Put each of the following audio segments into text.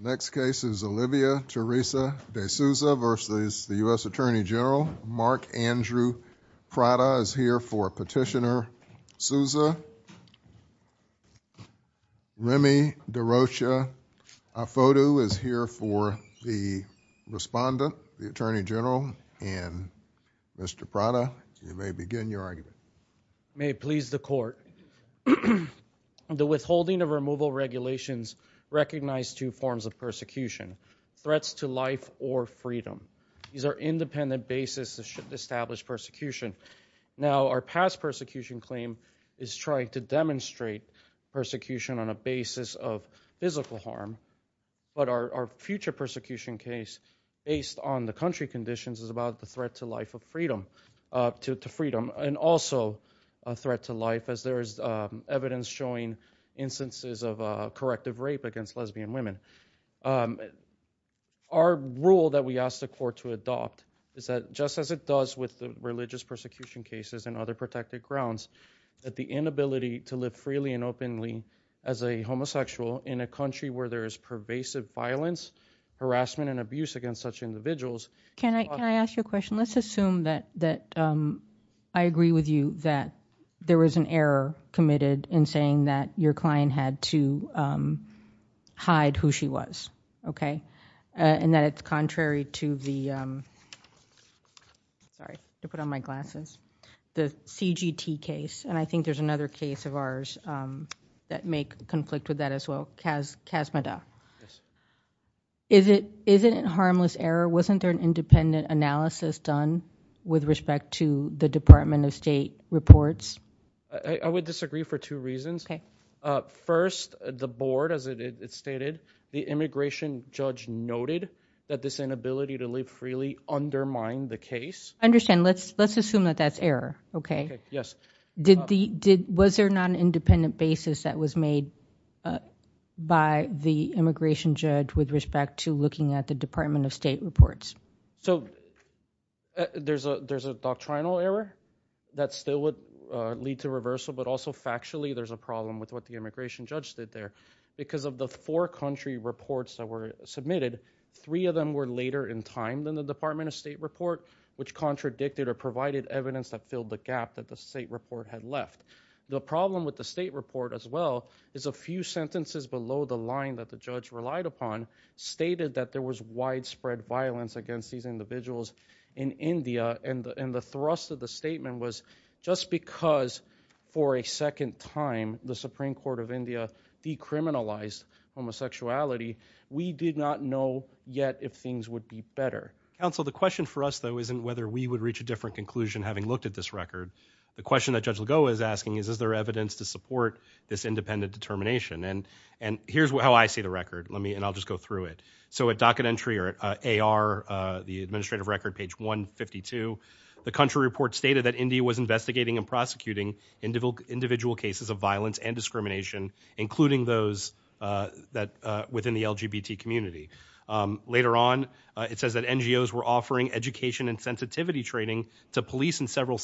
Mark Andrew Prada is here for Petitioner D'Souza, Remy DeRocha Afodu is here for the Respondent, the Attorney General, and Mr. Prada. You may begin your argument. May it please the court. The withholding of removal regulations recognize two forms of persecution. Threats to life or freedom. These are independent basis established persecution. Now our past persecution claim is trying to demonstrate persecution on a basis of physical harm, but our future persecution case based on the country conditions is about the threat to life of freedom to freedom and also a threat to life as there is evidence showing instances of corrective rape against lesbian women. Our rule that we ask the court to adopt is that just as it does with the religious persecution cases and other protected grounds that the inability to live freely and openly as a homosexual in a country where there is pervasive violence, harassment, and abuse against such individuals. Can I ask you a question? Let's assume that I agree with you that there was an error committed in saying that your client had to hide who she was, okay, and that it's contrary to the, sorry to put on my glasses, the CGT case and I think there's another case of ours that make conflict with that as well, CASMEDA. Is it a harmless error? Wasn't there an independent analysis done with respect to the Department of State reports? I would disagree for two reasons. Okay. First, the board as it stated, the immigration judge noted that this inability to live freely undermined the case. I understand. Let's assume that that's error, okay. Yes. Was there not an independent basis that was made by the immigration judge with respect to looking at the Department of State reports? So there's a doctrinal error that still would lead to reversal but also factually there's a problem with what the immigration judge did there. Because of the four country reports that were submitted, three of them were later in time than the Department of State report which contradicted or provided evidence that filled the gap that the State report as well, is a few sentences below the line that the judge relied upon stated that there was widespread violence against these individuals in India and the thrust of the statement was just because for a second time the Supreme Court of India decriminalized homosexuality, we did not know yet if things would be better. Counsel, the question for us though isn't whether we would reach a different conclusion having looked at this record. The evidence to support this independent determination and and here's how I see the record let me and I'll just go through it. So at docket entry or AR the administrative record page 152, the country report stated that India was investigating and prosecuting individual cases of violence and discrimination including those that within the LGBT community. Later on it says that NGOs were offering education and sensitivity training to police in the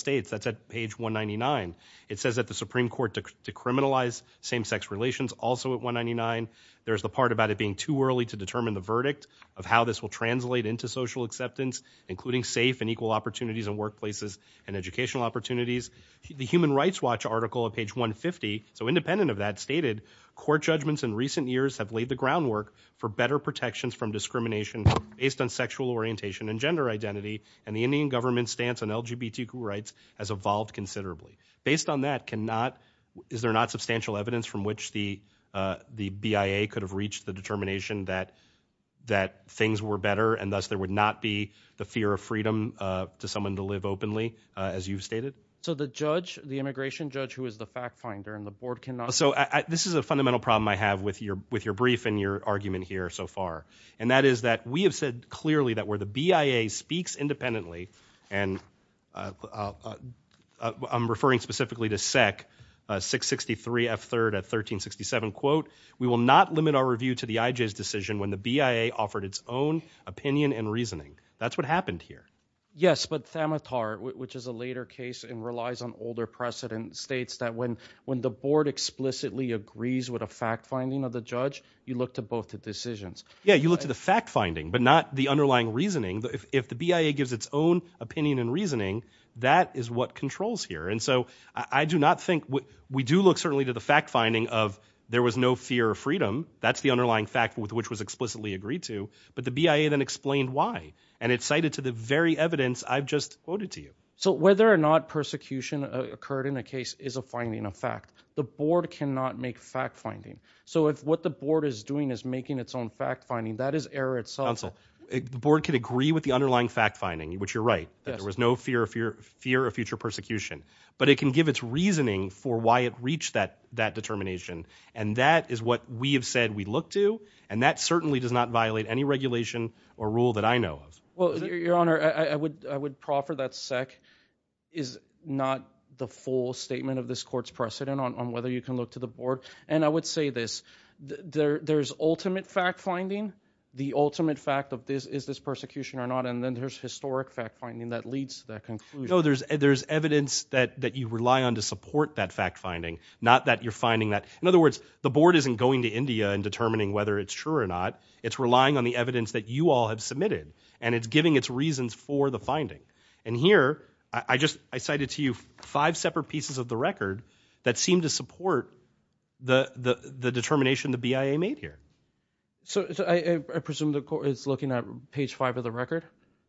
Supreme Court to decriminalize same-sex relations also at 199. There's the part about it being too early to determine the verdict of how this will translate into social acceptance including safe and equal opportunities and workplaces and educational opportunities. The Human Rights Watch article of page 150, so independent of that, stated court judgments in recent years have laid the groundwork for better protections from discrimination based on sexual orientation and gender identity and the Indian government stance on LGBTQ rights has evolved considerably. Based on that cannot is there not substantial evidence from which the the BIA could have reached the determination that that things were better and thus there would not be the fear of freedom to someone to live openly as you've stated? So the judge the immigration judge who is the fact finder and the board cannot. So this is a fundamental problem I have with your with your brief and your argument here so far and that is that we have said clearly that where the BIA speaks independently and I'm referring specifically to SEC 663 f3rd at 1367 quote we will not limit our review to the IJ's decision when the BIA offered its own opinion and reasoning. That's what happened here. Yes but Thamatar which is a later case and relies on older precedent states that when when the board explicitly agrees with a fact-finding of the judge you look to both the decisions. Yeah you look to the fact-finding but not the underlying reasoning. If the BIA gives its own opinion and reasoning that is what controls here and so I do not think what we do look certainly to the fact-finding of there was no fear of freedom that's the underlying fact with which was explicitly agreed to but the BIA then explained why and it cited to the very evidence I've just quoted to you. So whether or not persecution occurred in a case is a finding of fact. The board cannot make fact-finding so if what the board can agree with the underlying fact-finding which you're right there was no fear of your fear of future persecution but it can give its reasoning for why it reached that that determination and that is what we have said we look to and that certainly does not violate any regulation or rule that I know of. Well your honor I would I would proffer that SEC is not the full statement of this court's precedent on whether you can look to the board and I would say this there there's ultimate fact-finding the ultimate fact of this is this persecution or not and then there's historic fact-finding that leads to that conclusion. No there's there's evidence that that you rely on to support that fact-finding not that you're finding that in other words the board isn't going to India and determining whether it's true or not it's relying on the evidence that you all have submitted and it's giving its reasons for the finding and here I just I cited to you five separate pieces of the record that seem to support the the determination the BIA made here. So I presume the court is looking at page five of the record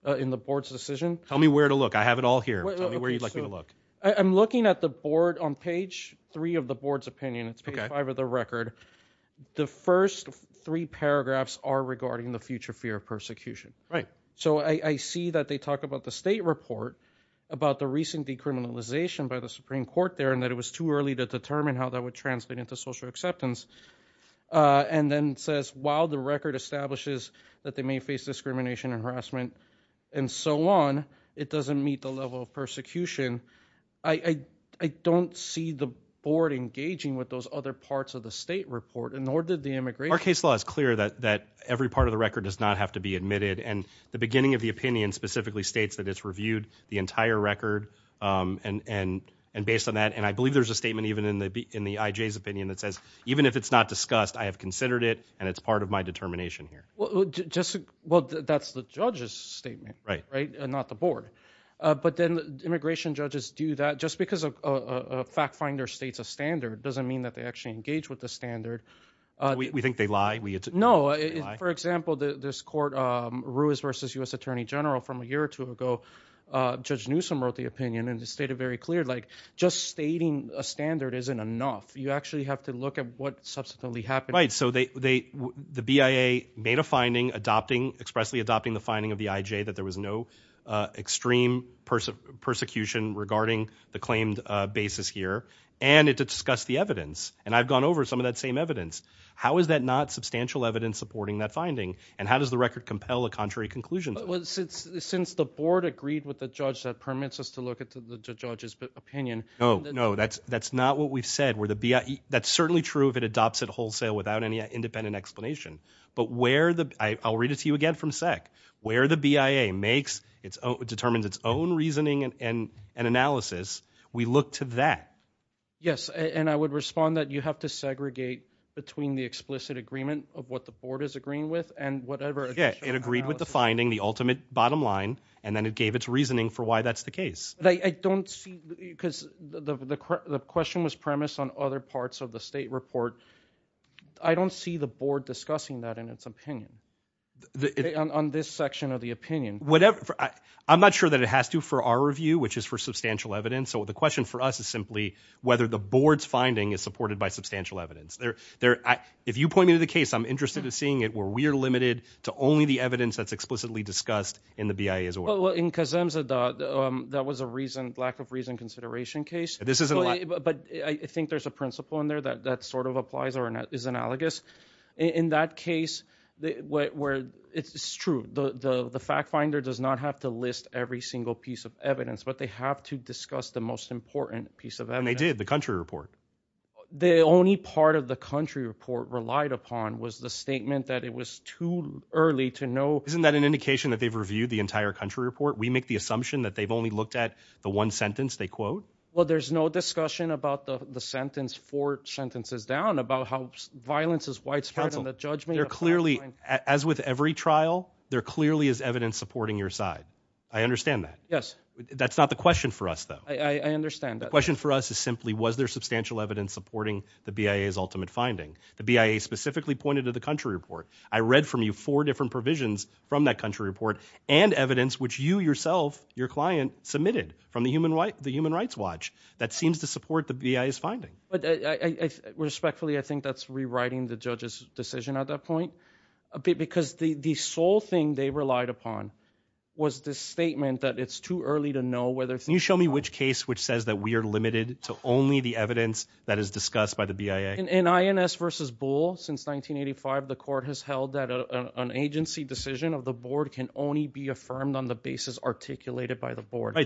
in the board's decision. Tell me where to look I have it all here where you'd like to look. I'm looking at the board on page three of the board's opinion it's page five of the record the first three paragraphs are regarding the future fear of persecution. Right. So I see that they talk about the state report about the recent decriminalization by the Supreme Court there and that it was too early to determine how that would translate into social acceptance and then says while the record establishes that they may face discrimination and harassment and so on it doesn't meet the level of persecution. I don't see the board engaging with those other parts of the state report and nor did the immigration. Our case law is clear that that every part of the record does not have to be admitted and the beginning of the opinion specifically states that it's reviewed the entire record and and and based on that and I believe there's a statement even in the in the IJ's opinion that says even if it's not discussed I have considered it and it's part of my determination here. Well just well that's the judge's statement. Right. Right and not the board but then immigration judges do that just because a fact finder states a standard doesn't mean that they actually engage with the standard. We think they lie. No for example this court Ruiz versus US Attorney General from a year or two ago Judge Newsom wrote the opinion and the state of very clear like just stating a subsequently happened. Right so they the BIA made a finding adopting expressly adopting the finding of the IJ that there was no extreme person persecution regarding the claimed basis here and it discussed the evidence and I've gone over some of that same evidence. How is that not substantial evidence supporting that finding and how does the record compel a contrary conclusion? Well since the board agreed with the judge that permits us to look at the judge's opinion. Oh no that's that's not what we've said where the BIA that's certainly true if it adopts it wholesale without any independent explanation but where the I'll read it to you again from SEC where the BIA makes its own determines its own reasoning and an analysis we look to that. Yes and I would respond that you have to segregate between the explicit agreement of what the board is agreeing with and whatever. Yeah it agreed with the finding the ultimate bottom line and then it gave its reasoning for why that's the of the state report. I don't see the board discussing that in its opinion on this section of the opinion. Whatever I'm not sure that it has to for our review which is for substantial evidence so the question for us is simply whether the board's finding is supported by substantial evidence. There there if you point me to the case I'm interested in seeing it where we are limited to only the evidence that's explicitly discussed in the BIA's order. Well in Kazemzadeh that was a reason lack of reason consideration case. This isn't. But I think there's a principle in there that that sort of applies or not is analogous. In that case the where it's true the the the fact finder does not have to list every single piece of evidence but they have to discuss the most important piece of evidence. They did the country report. The only part of the country report relied upon was the statement that it was too early to know. Isn't that an indication that they've reviewed the entire country report? We make the assumption that they've only looked at the one sentence they quote? Well there's no discussion about the the sentence four sentences down about how violence is widespread in the judgment. They're clearly as with every trial there clearly is evidence supporting your side. I understand that. Yes. That's not the question for us though. I understand. The question for us is simply was there substantial evidence supporting the BIA's ultimate finding? The BIA specifically pointed to the country report. I read from you four different provisions from that country report and evidence which you yourself your client submitted from the human right the Human Rights Watch that seems to support the BIA's finding. But respectfully I think that's rewriting the judges decision at that point a bit because the the sole thing they relied upon was this statement that it's too early to know whether. Can you show me which case which says that we are limited to only the evidence that is discussed by the BIA? In INS versus Bull since 1985 the court has held that an agency decision of the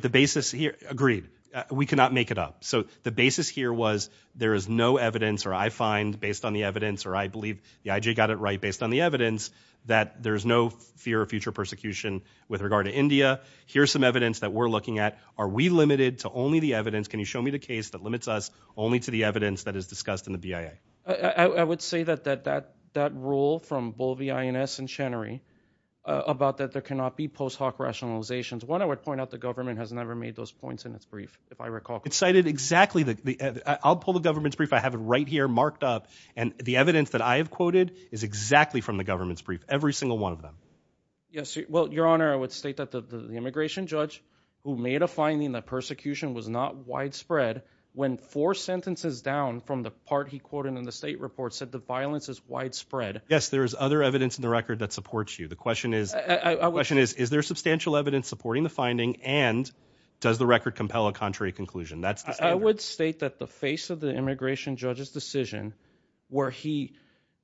basis here agreed we cannot make it up so the basis here was there is no evidence or I find based on the evidence or I believe the IJ got it right based on the evidence that there's no fear of future persecution with regard to India. Here's some evidence that we're looking at. Are we limited to only the evidence? Can you show me the case that limits us only to the evidence that is discussed in the BIA? I would say that that that that rule from Bull v INS and Chenery about that there cannot be post hoc rationalizations. One I would point out the government has never made those points in its brief if I recall. It's cited exactly the I'll pull the government's brief I have it right here marked up and the evidence that I have quoted is exactly from the government's brief every single one of them. Yes well your honor I would state that the immigration judge who made a finding that persecution was not widespread when four sentences down from the part he quoted in the state report said the violence is widespread. Yes there is other evidence in the record that supports you. The question is is there substantial evidence supporting the and does the record compel a contrary conclusion? That's I would state that the face of the immigration judge's decision where he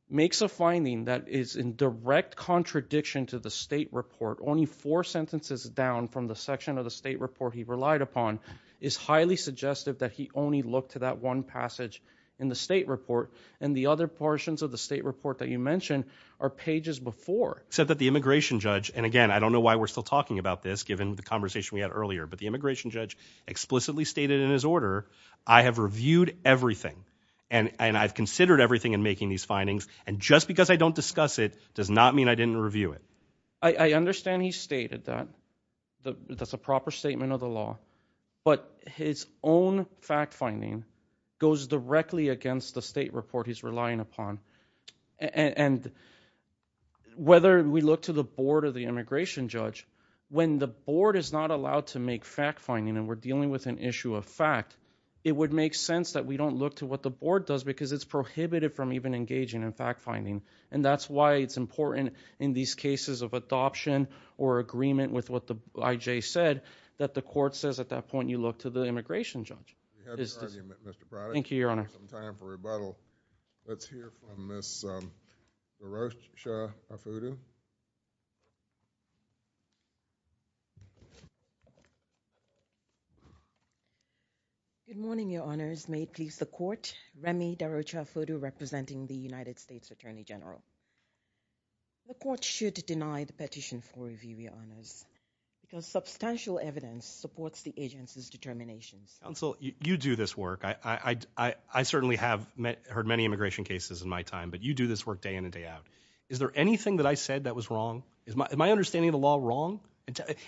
makes a finding that is in direct contradiction to the state report only four sentences down from the section of the state report he relied upon is highly suggestive that he only looked to that one passage in the state report and the other portions of the state report that you mentioned are pages before said that the immigration judge and again I don't know why we're still talking about this given the earlier but the immigration judge explicitly stated in his order I have reviewed everything and and I've considered everything in making these findings and just because I don't discuss it does not mean I didn't review it. I understand he stated that the that's a proper statement of the law but his own fact-finding goes directly against the state report he's relying upon and whether we look to the board of the immigration judge when the board is not allowed to make fact-finding and we're dealing with an issue of fact it would make sense that we don't look to what the board does because it's prohibited from even engaging in fact-finding and that's why it's important in these cases of adoption or agreement with what the IJ said that the court says at that point you look to the immigration judge. Thank you your honor. Time for rebuttal. Let's hear from Ms. Darocha Afudu. Good morning your honors may please the court Remy Darocha Afudu representing the United States Attorney General. The court should deny the petition for review your honors because substantial evidence supports the agency's counsel you do this work I I certainly have met heard many immigration cases in my time but you do this work day in and day out is there anything that I said that was wrong is my understanding of the law wrong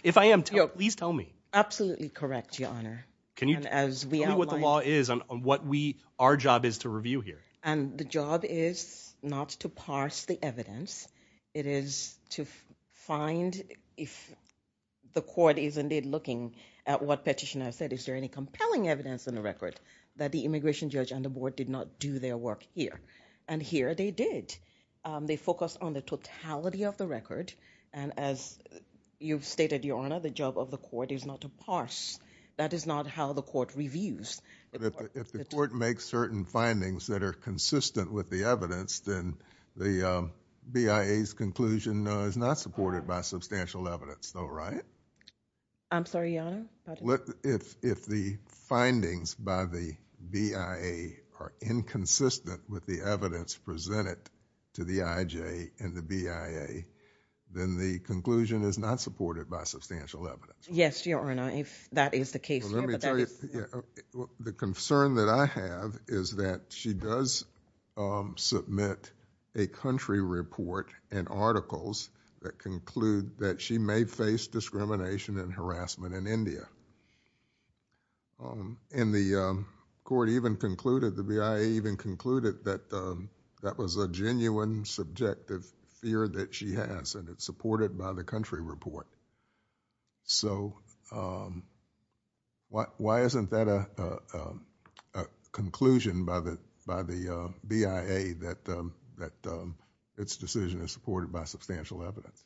if I am please tell me absolutely correct your honor can you tell me what the law is on what we our job is to review here and the job is not to parse the evidence it is to find if the court is indeed looking at what petitioner said is there any compelling evidence in the record that the immigration judge and the board did not do their work here and here they did they focus on the totality of the record and as you've stated your honor the job of the court is not to parse that is not how the court reviews if the court makes certain findings that are consistent with the evidence then the BIA's conclusion is not supported by substantial evidence though right I'm sorry y'all look if if the findings by the BIA are inconsistent with the evidence presented to the IJ and the BIA then the conclusion is not supported by substantial evidence yes your honor if that is the case the concern that I have is that she does submit a country report and articles that conclude that she may face discrimination and harassment in India and the court even concluded the BIA even concluded that that was a genuine subjective fear that she has and it's supported by the country report so what why isn't that a conclusion by the by the BIA that that its decision is supported by substantial evidence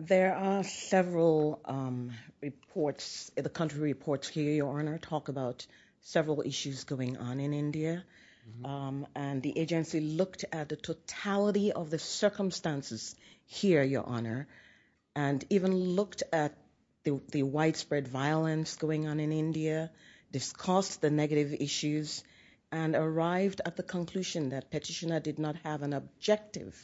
there are several reports in the country reports here your honor talk about several issues going on in India and the agency looked at the totality of the circumstances here your honor and even looked at the widespread violence going on in India discussed the negative issues and arrived at the conclusion that petitioner did not have an objective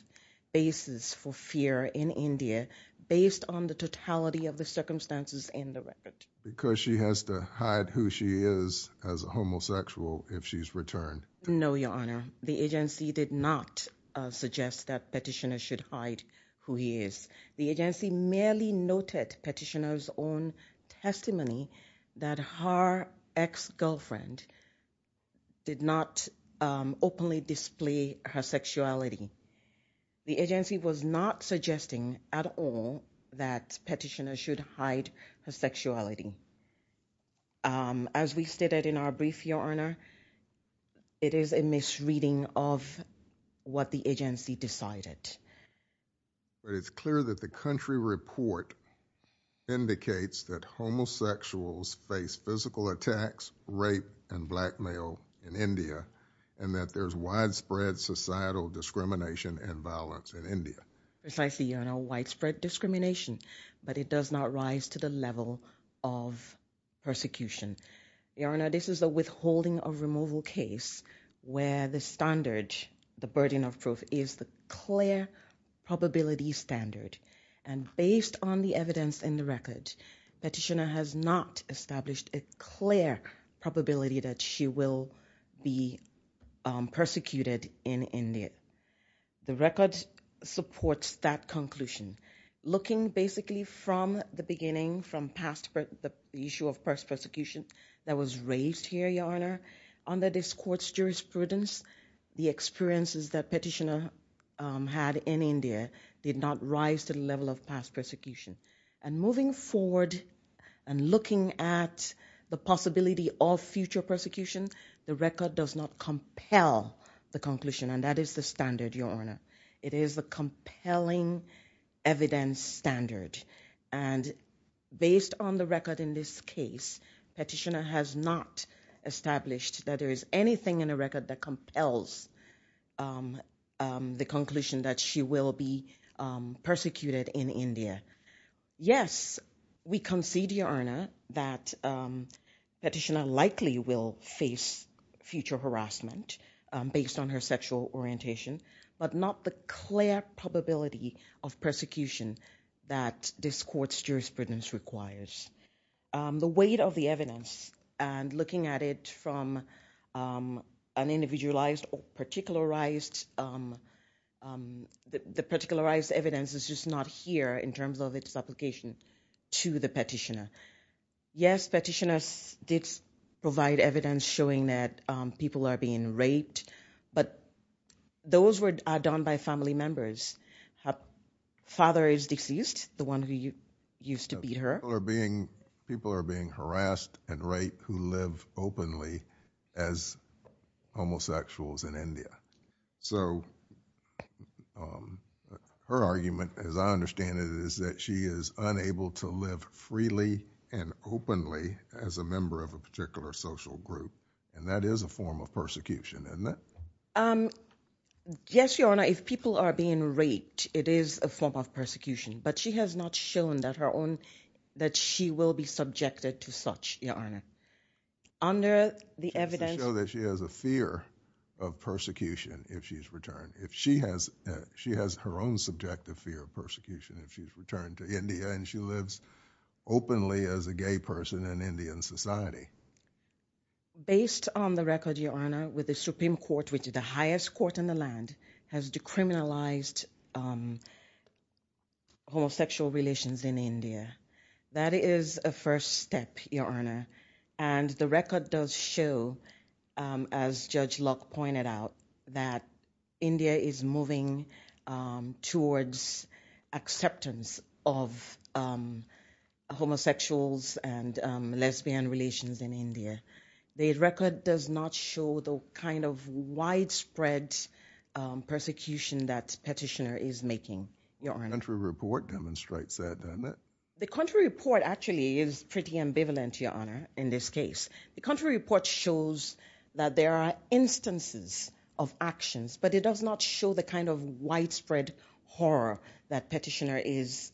basis for fear in India based on the totality of the circumstances in the record because she has to hide who she is as a homosexual if she's returned no your honor the agency did not suggest that petitioner should hide who he is the agency merely noted petitioners own testimony that her ex-girlfriend did not openly display her sexuality the agency was not suggesting at all that petitioner should hide her sexuality as we stated in our brief your honor it is a misreading of what the agency decided it's clear that the country report indicates that homosexuals face physical attacks rape and blackmail in India and that there's widespread societal discrimination and violence in India precisely on a widespread discrimination but it does not rise to the level of case where the standard the burden of proof is the clear probability standard and based on the evidence in the record petitioner has not established a clear probability that she will be persecuted in India the record supports that conclusion looking basically from the beginning from past but the issue of persecution that was raised here your honor on the discourse jurisprudence the experiences that petitioner had in India did not rise to the level of past persecution and moving forward and looking at the possibility of future persecution the record does not compel the conclusion and that is the standard your honor it is the compelling evidence standard and based on the record in this case petitioner has not established that there is anything in the record that compels the conclusion that she will be persecuted in India yes we concede your honor that petitioner likely will face future harassment based on her sexual orientation but not the clear probability of persecution that this court's jurisprudence requires the weight of the evidence and looking at it from an individualized or particularized the particularized evidence is just not here in terms of its application to the petitioner yes petitioners did provide evidence showing that people are being raped but those were done by family members father is deceased the one who you used to be her or being people are being harassed and rape who live openly as homosexuals in India so her argument as I understand it is that she is unable to live freely and openly as a member of a particular social group and that is a form of persecution and that yes your if people are being raped it is a form of persecution but she has not shown that her own that she will be subjected to such your honor under the evidence that she has a fear of persecution if she's returned if she has she has her own subjective fear of persecution if she's returned to India and she lives openly as a gay person in Indian society based on the record your honor with the Supreme Court which is the highest court in the land has decriminalized homosexual relations in India that is a first step your honor and the record does show as Judge Luck pointed out that India is moving towards acceptance of homosexuals and lesbian relations in India the record does not show the kind of widespread persecution that petitioner is making your entry report demonstrates that the country report actually is pretty ambivalent your honor in this case the country report shows that there are instances of actions but it does not show the kind of widespread horror that petitioner is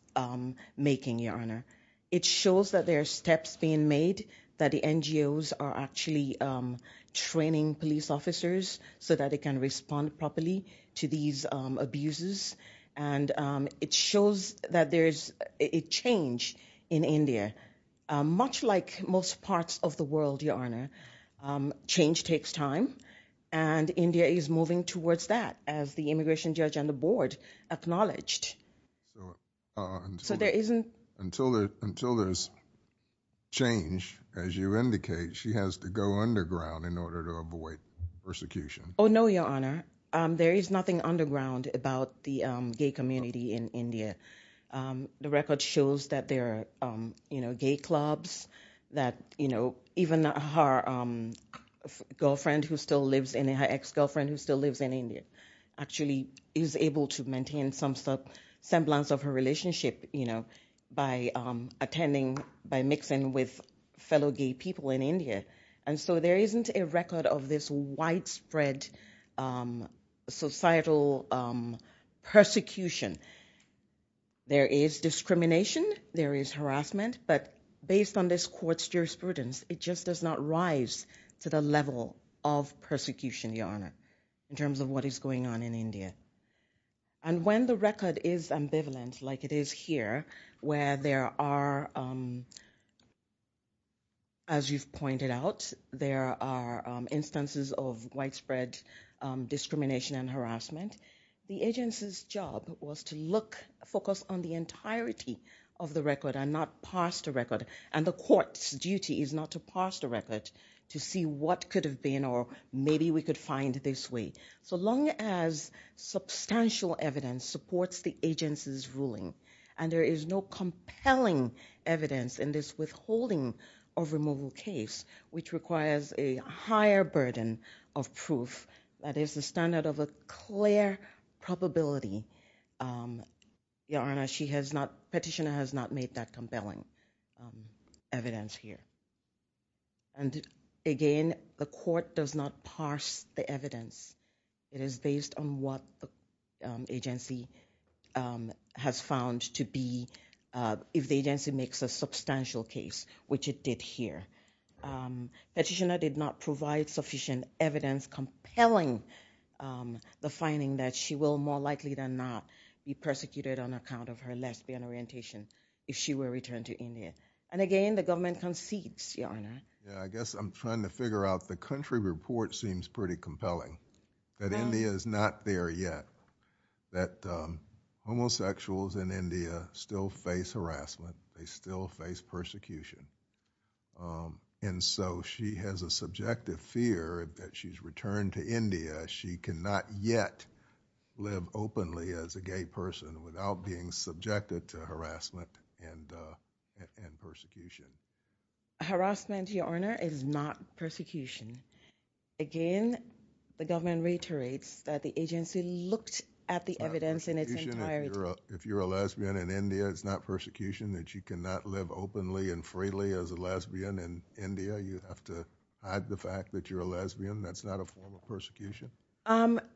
making your honor it shows that there are steps being made that the NGOs are actually training police officers so that it can respond properly to these abuses and it shows that there is a change in India much like most parts of the world your honor change takes time and India is moving towards that as the immigration judge and the change as you indicate she has to go underground in order to avoid persecution oh no your honor there is nothing underground about the gay community in India the record shows that there are you know gay clubs that you know even her girlfriend who still lives in her ex-girlfriend who still lives in India actually is able to maintain some semblance of her relationship you know by attending by mixing with fellow gay people in India and so there isn't a record of this widespread societal persecution there is discrimination there is harassment but based on this court's jurisprudence it just does not rise to the level of persecution your honor in terms of what is going on in are as you've pointed out there are instances of widespread discrimination and harassment the agency's job was to look focus on the entirety of the record and not pass the record and the court's duty is not to pass the record to see what could have been or maybe we could find this way so long as substantial evidence supports the agency's ruling and there is no compelling evidence in this withholding of removal case which requires a higher burden of proof that is the standard of a clear probability your honor she has not petitioner has not made that compelling evidence here and again the court does not parse the agency has found to be if the agency makes a substantial case which it did here petitioner did not provide sufficient evidence compelling the finding that she will more likely than not be persecuted on account of her lesbian orientation if she were returned to India and again the government concedes your honor I guess I'm trying to figure out the country report seems pretty compelling that India is not there yet that homosexuals in India still face harassment they still face persecution and so she has a subjective fear that she's returned to India she cannot yet live openly as a gay person without being subjected to harassment and persecution harassment your honor is not persecution again the government reiterates that the agency looked at the evidence in its entire if you're a lesbian in India it's not persecution that you cannot live openly and freely as a lesbian in India you have to hide the fact that you're a lesbian that's not a form of persecution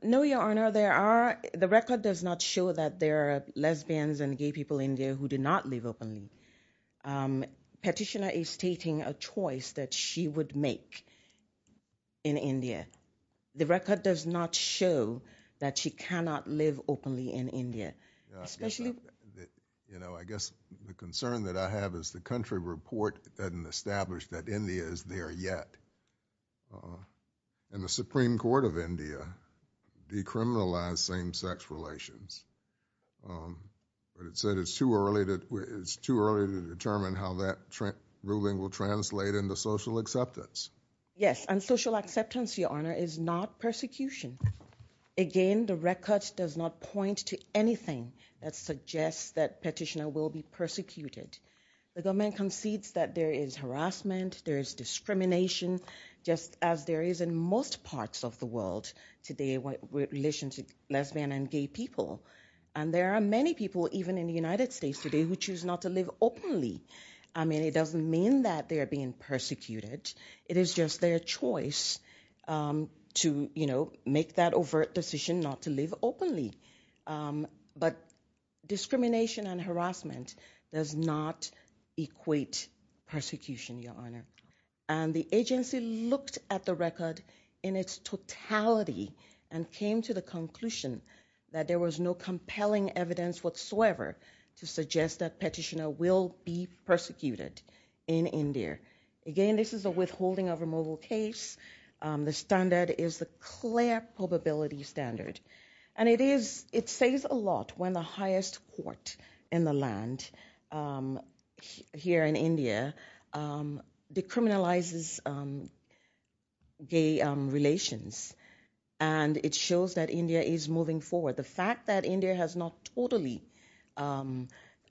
no your honor there are the record does not show that there are lesbians and gay people in there who did not live openly petitioner is stating a choice that she would make in India the record does not show that she cannot live openly in India especially you know I guess the concern that I have is the country report and established that India is there yet and the Supreme Court of India decriminalized same-sex relations but it said it's too early that it's too early to determine how that ruling will translate into social acceptance yes and social acceptance your honor is not persecution again the records does not point to anything that suggests that petitioner will be persecuted the government concedes that there is harassment there is discrimination just as there is in most parts of the world today what relations with lesbian and gay people and there are many people even in the United States today who choose not to live openly I mean it doesn't mean that they are being persecuted it is just their choice to you know make that overt decision not to live openly but discrimination and harassment does not equate persecution your honor and the agency looked at the record in its totality and came to the conclusion that there was no compelling evidence whatsoever to suggest that petitioner will be persecuted in India again this is a withholding of a mobile case the standard is the clear probability standard and it is it says a highest court in the land here in India decriminalizes gay relations and it shows that India is moving forward the fact that India has not totally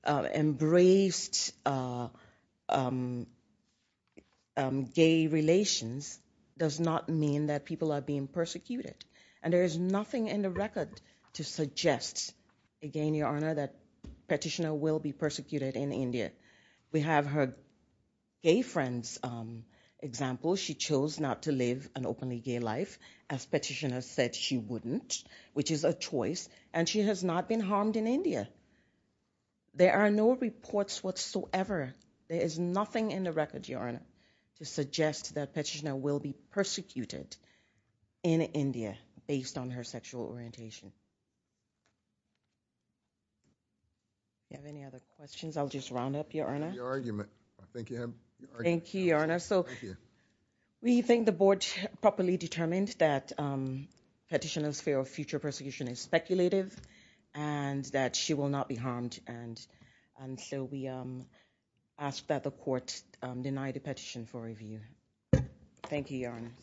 embraced gay relations does not mean that people are being persecuted and there is petitioner will be persecuted in India we have her gay friends example she chose not to live an openly gay life as petitioner said she wouldn't which is a choice and she has not been harmed in India there are no reports whatsoever there is nothing in the record your honor to suggest that petitioner will be any other questions I'll just round up your honor argument thank you thank you your honor so we think the board properly determined that petitioners fear of future persecution is speculative and that she will not be harmed and and so we asked that the court denied a petition for review thank you your honor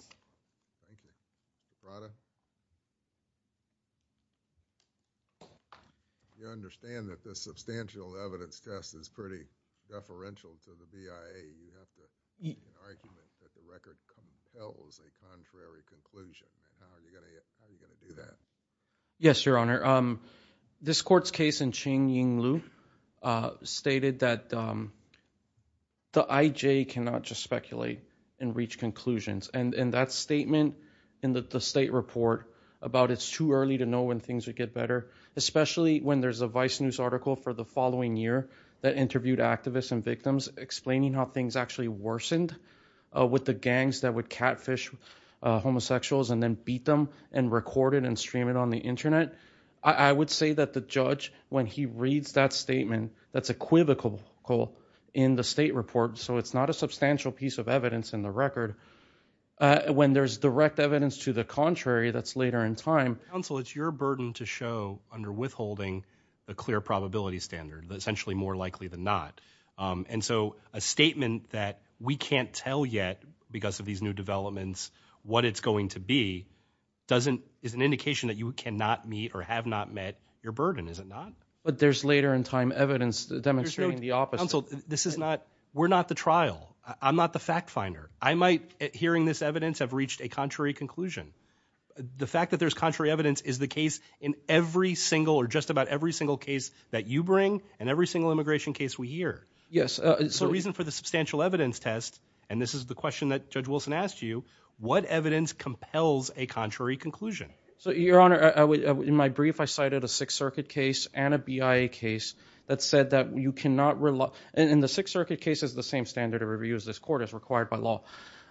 you understand that this substantial evidence test is pretty deferential to the BIA yes your honor this court's case in changing loop stated that the IJ cannot just speculate and reach conclusions and in that statement in the state report about it's too early to know when things would get better especially when there's a vice news article for the following year that interviewed activists and victims explaining how things actually worsened with the gangs that would catfish homosexuals and then beat them and record it and stream it on the internet I would say that the judge when he reads that statement that's a quibble hole in the state report so it's not a substantial piece of evidence in the record when there's direct evidence to the contrary that's later in time council it's your burden to show under withholding a clear probability standard essentially more likely than not and so a statement that we can't tell yet because of these new developments what it's going to be doesn't is an indication that you cannot meet or have not met your burden is it not but there's later in time evidence demonstrating the opposite this is not we're not the trial I'm not the fact finder I might hearing this evidence have reached a contrary conclusion the fact that there's contrary evidence is the case in every single or just about every single case that you bring and every single immigration case we hear yes it's a reason for the substantial evidence test and this is the question that judge Wilson asked you what evidence compels a contrary conclusion so in my brief I cited a Sixth Circuit case and a BIA case that said that you cannot rely in the Sixth Circuit case is the same standard of review as this court is required by law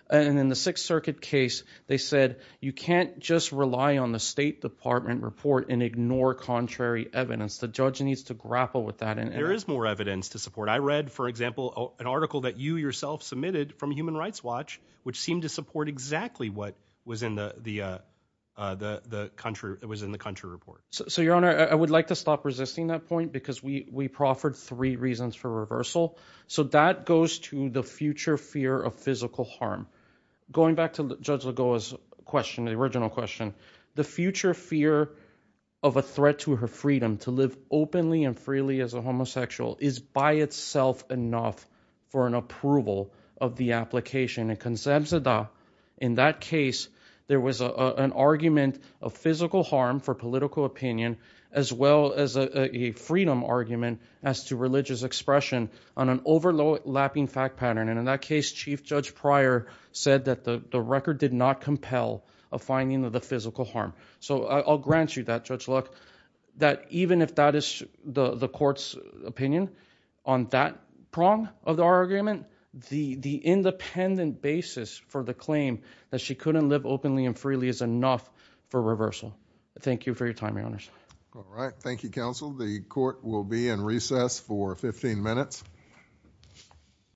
and in the Sixth Circuit case they said you can't just rely on the State Department report and ignore contrary evidence the judge needs to grapple with that and there is more evidence to support I read for example an article that you yourself submitted from Human Rights Watch which the country that was in the country report so your honor I would like to stop resisting that point because we we proffered three reasons for reversal so that goes to the future fear of physical harm going back to the judge Lagoa's question the original question the future fear of a threat to her freedom to live openly and freely as a homosexual is by itself enough for an approval of the application and consents of the in that case there was a an argument of physical harm for political opinion as well as a freedom argument as to religious expression on an overlapping fact pattern in that case chief judge prior said that the record did not compel a finding of the physical harm so I'll grant you that judge luck that even if that is the the court's opinion on that prong of the argument the the independent basis for the claim that she couldn't live openly and freely is enough for reversal thank you for your time your honors all right Thank You counsel the court will be in recess for 15 minutes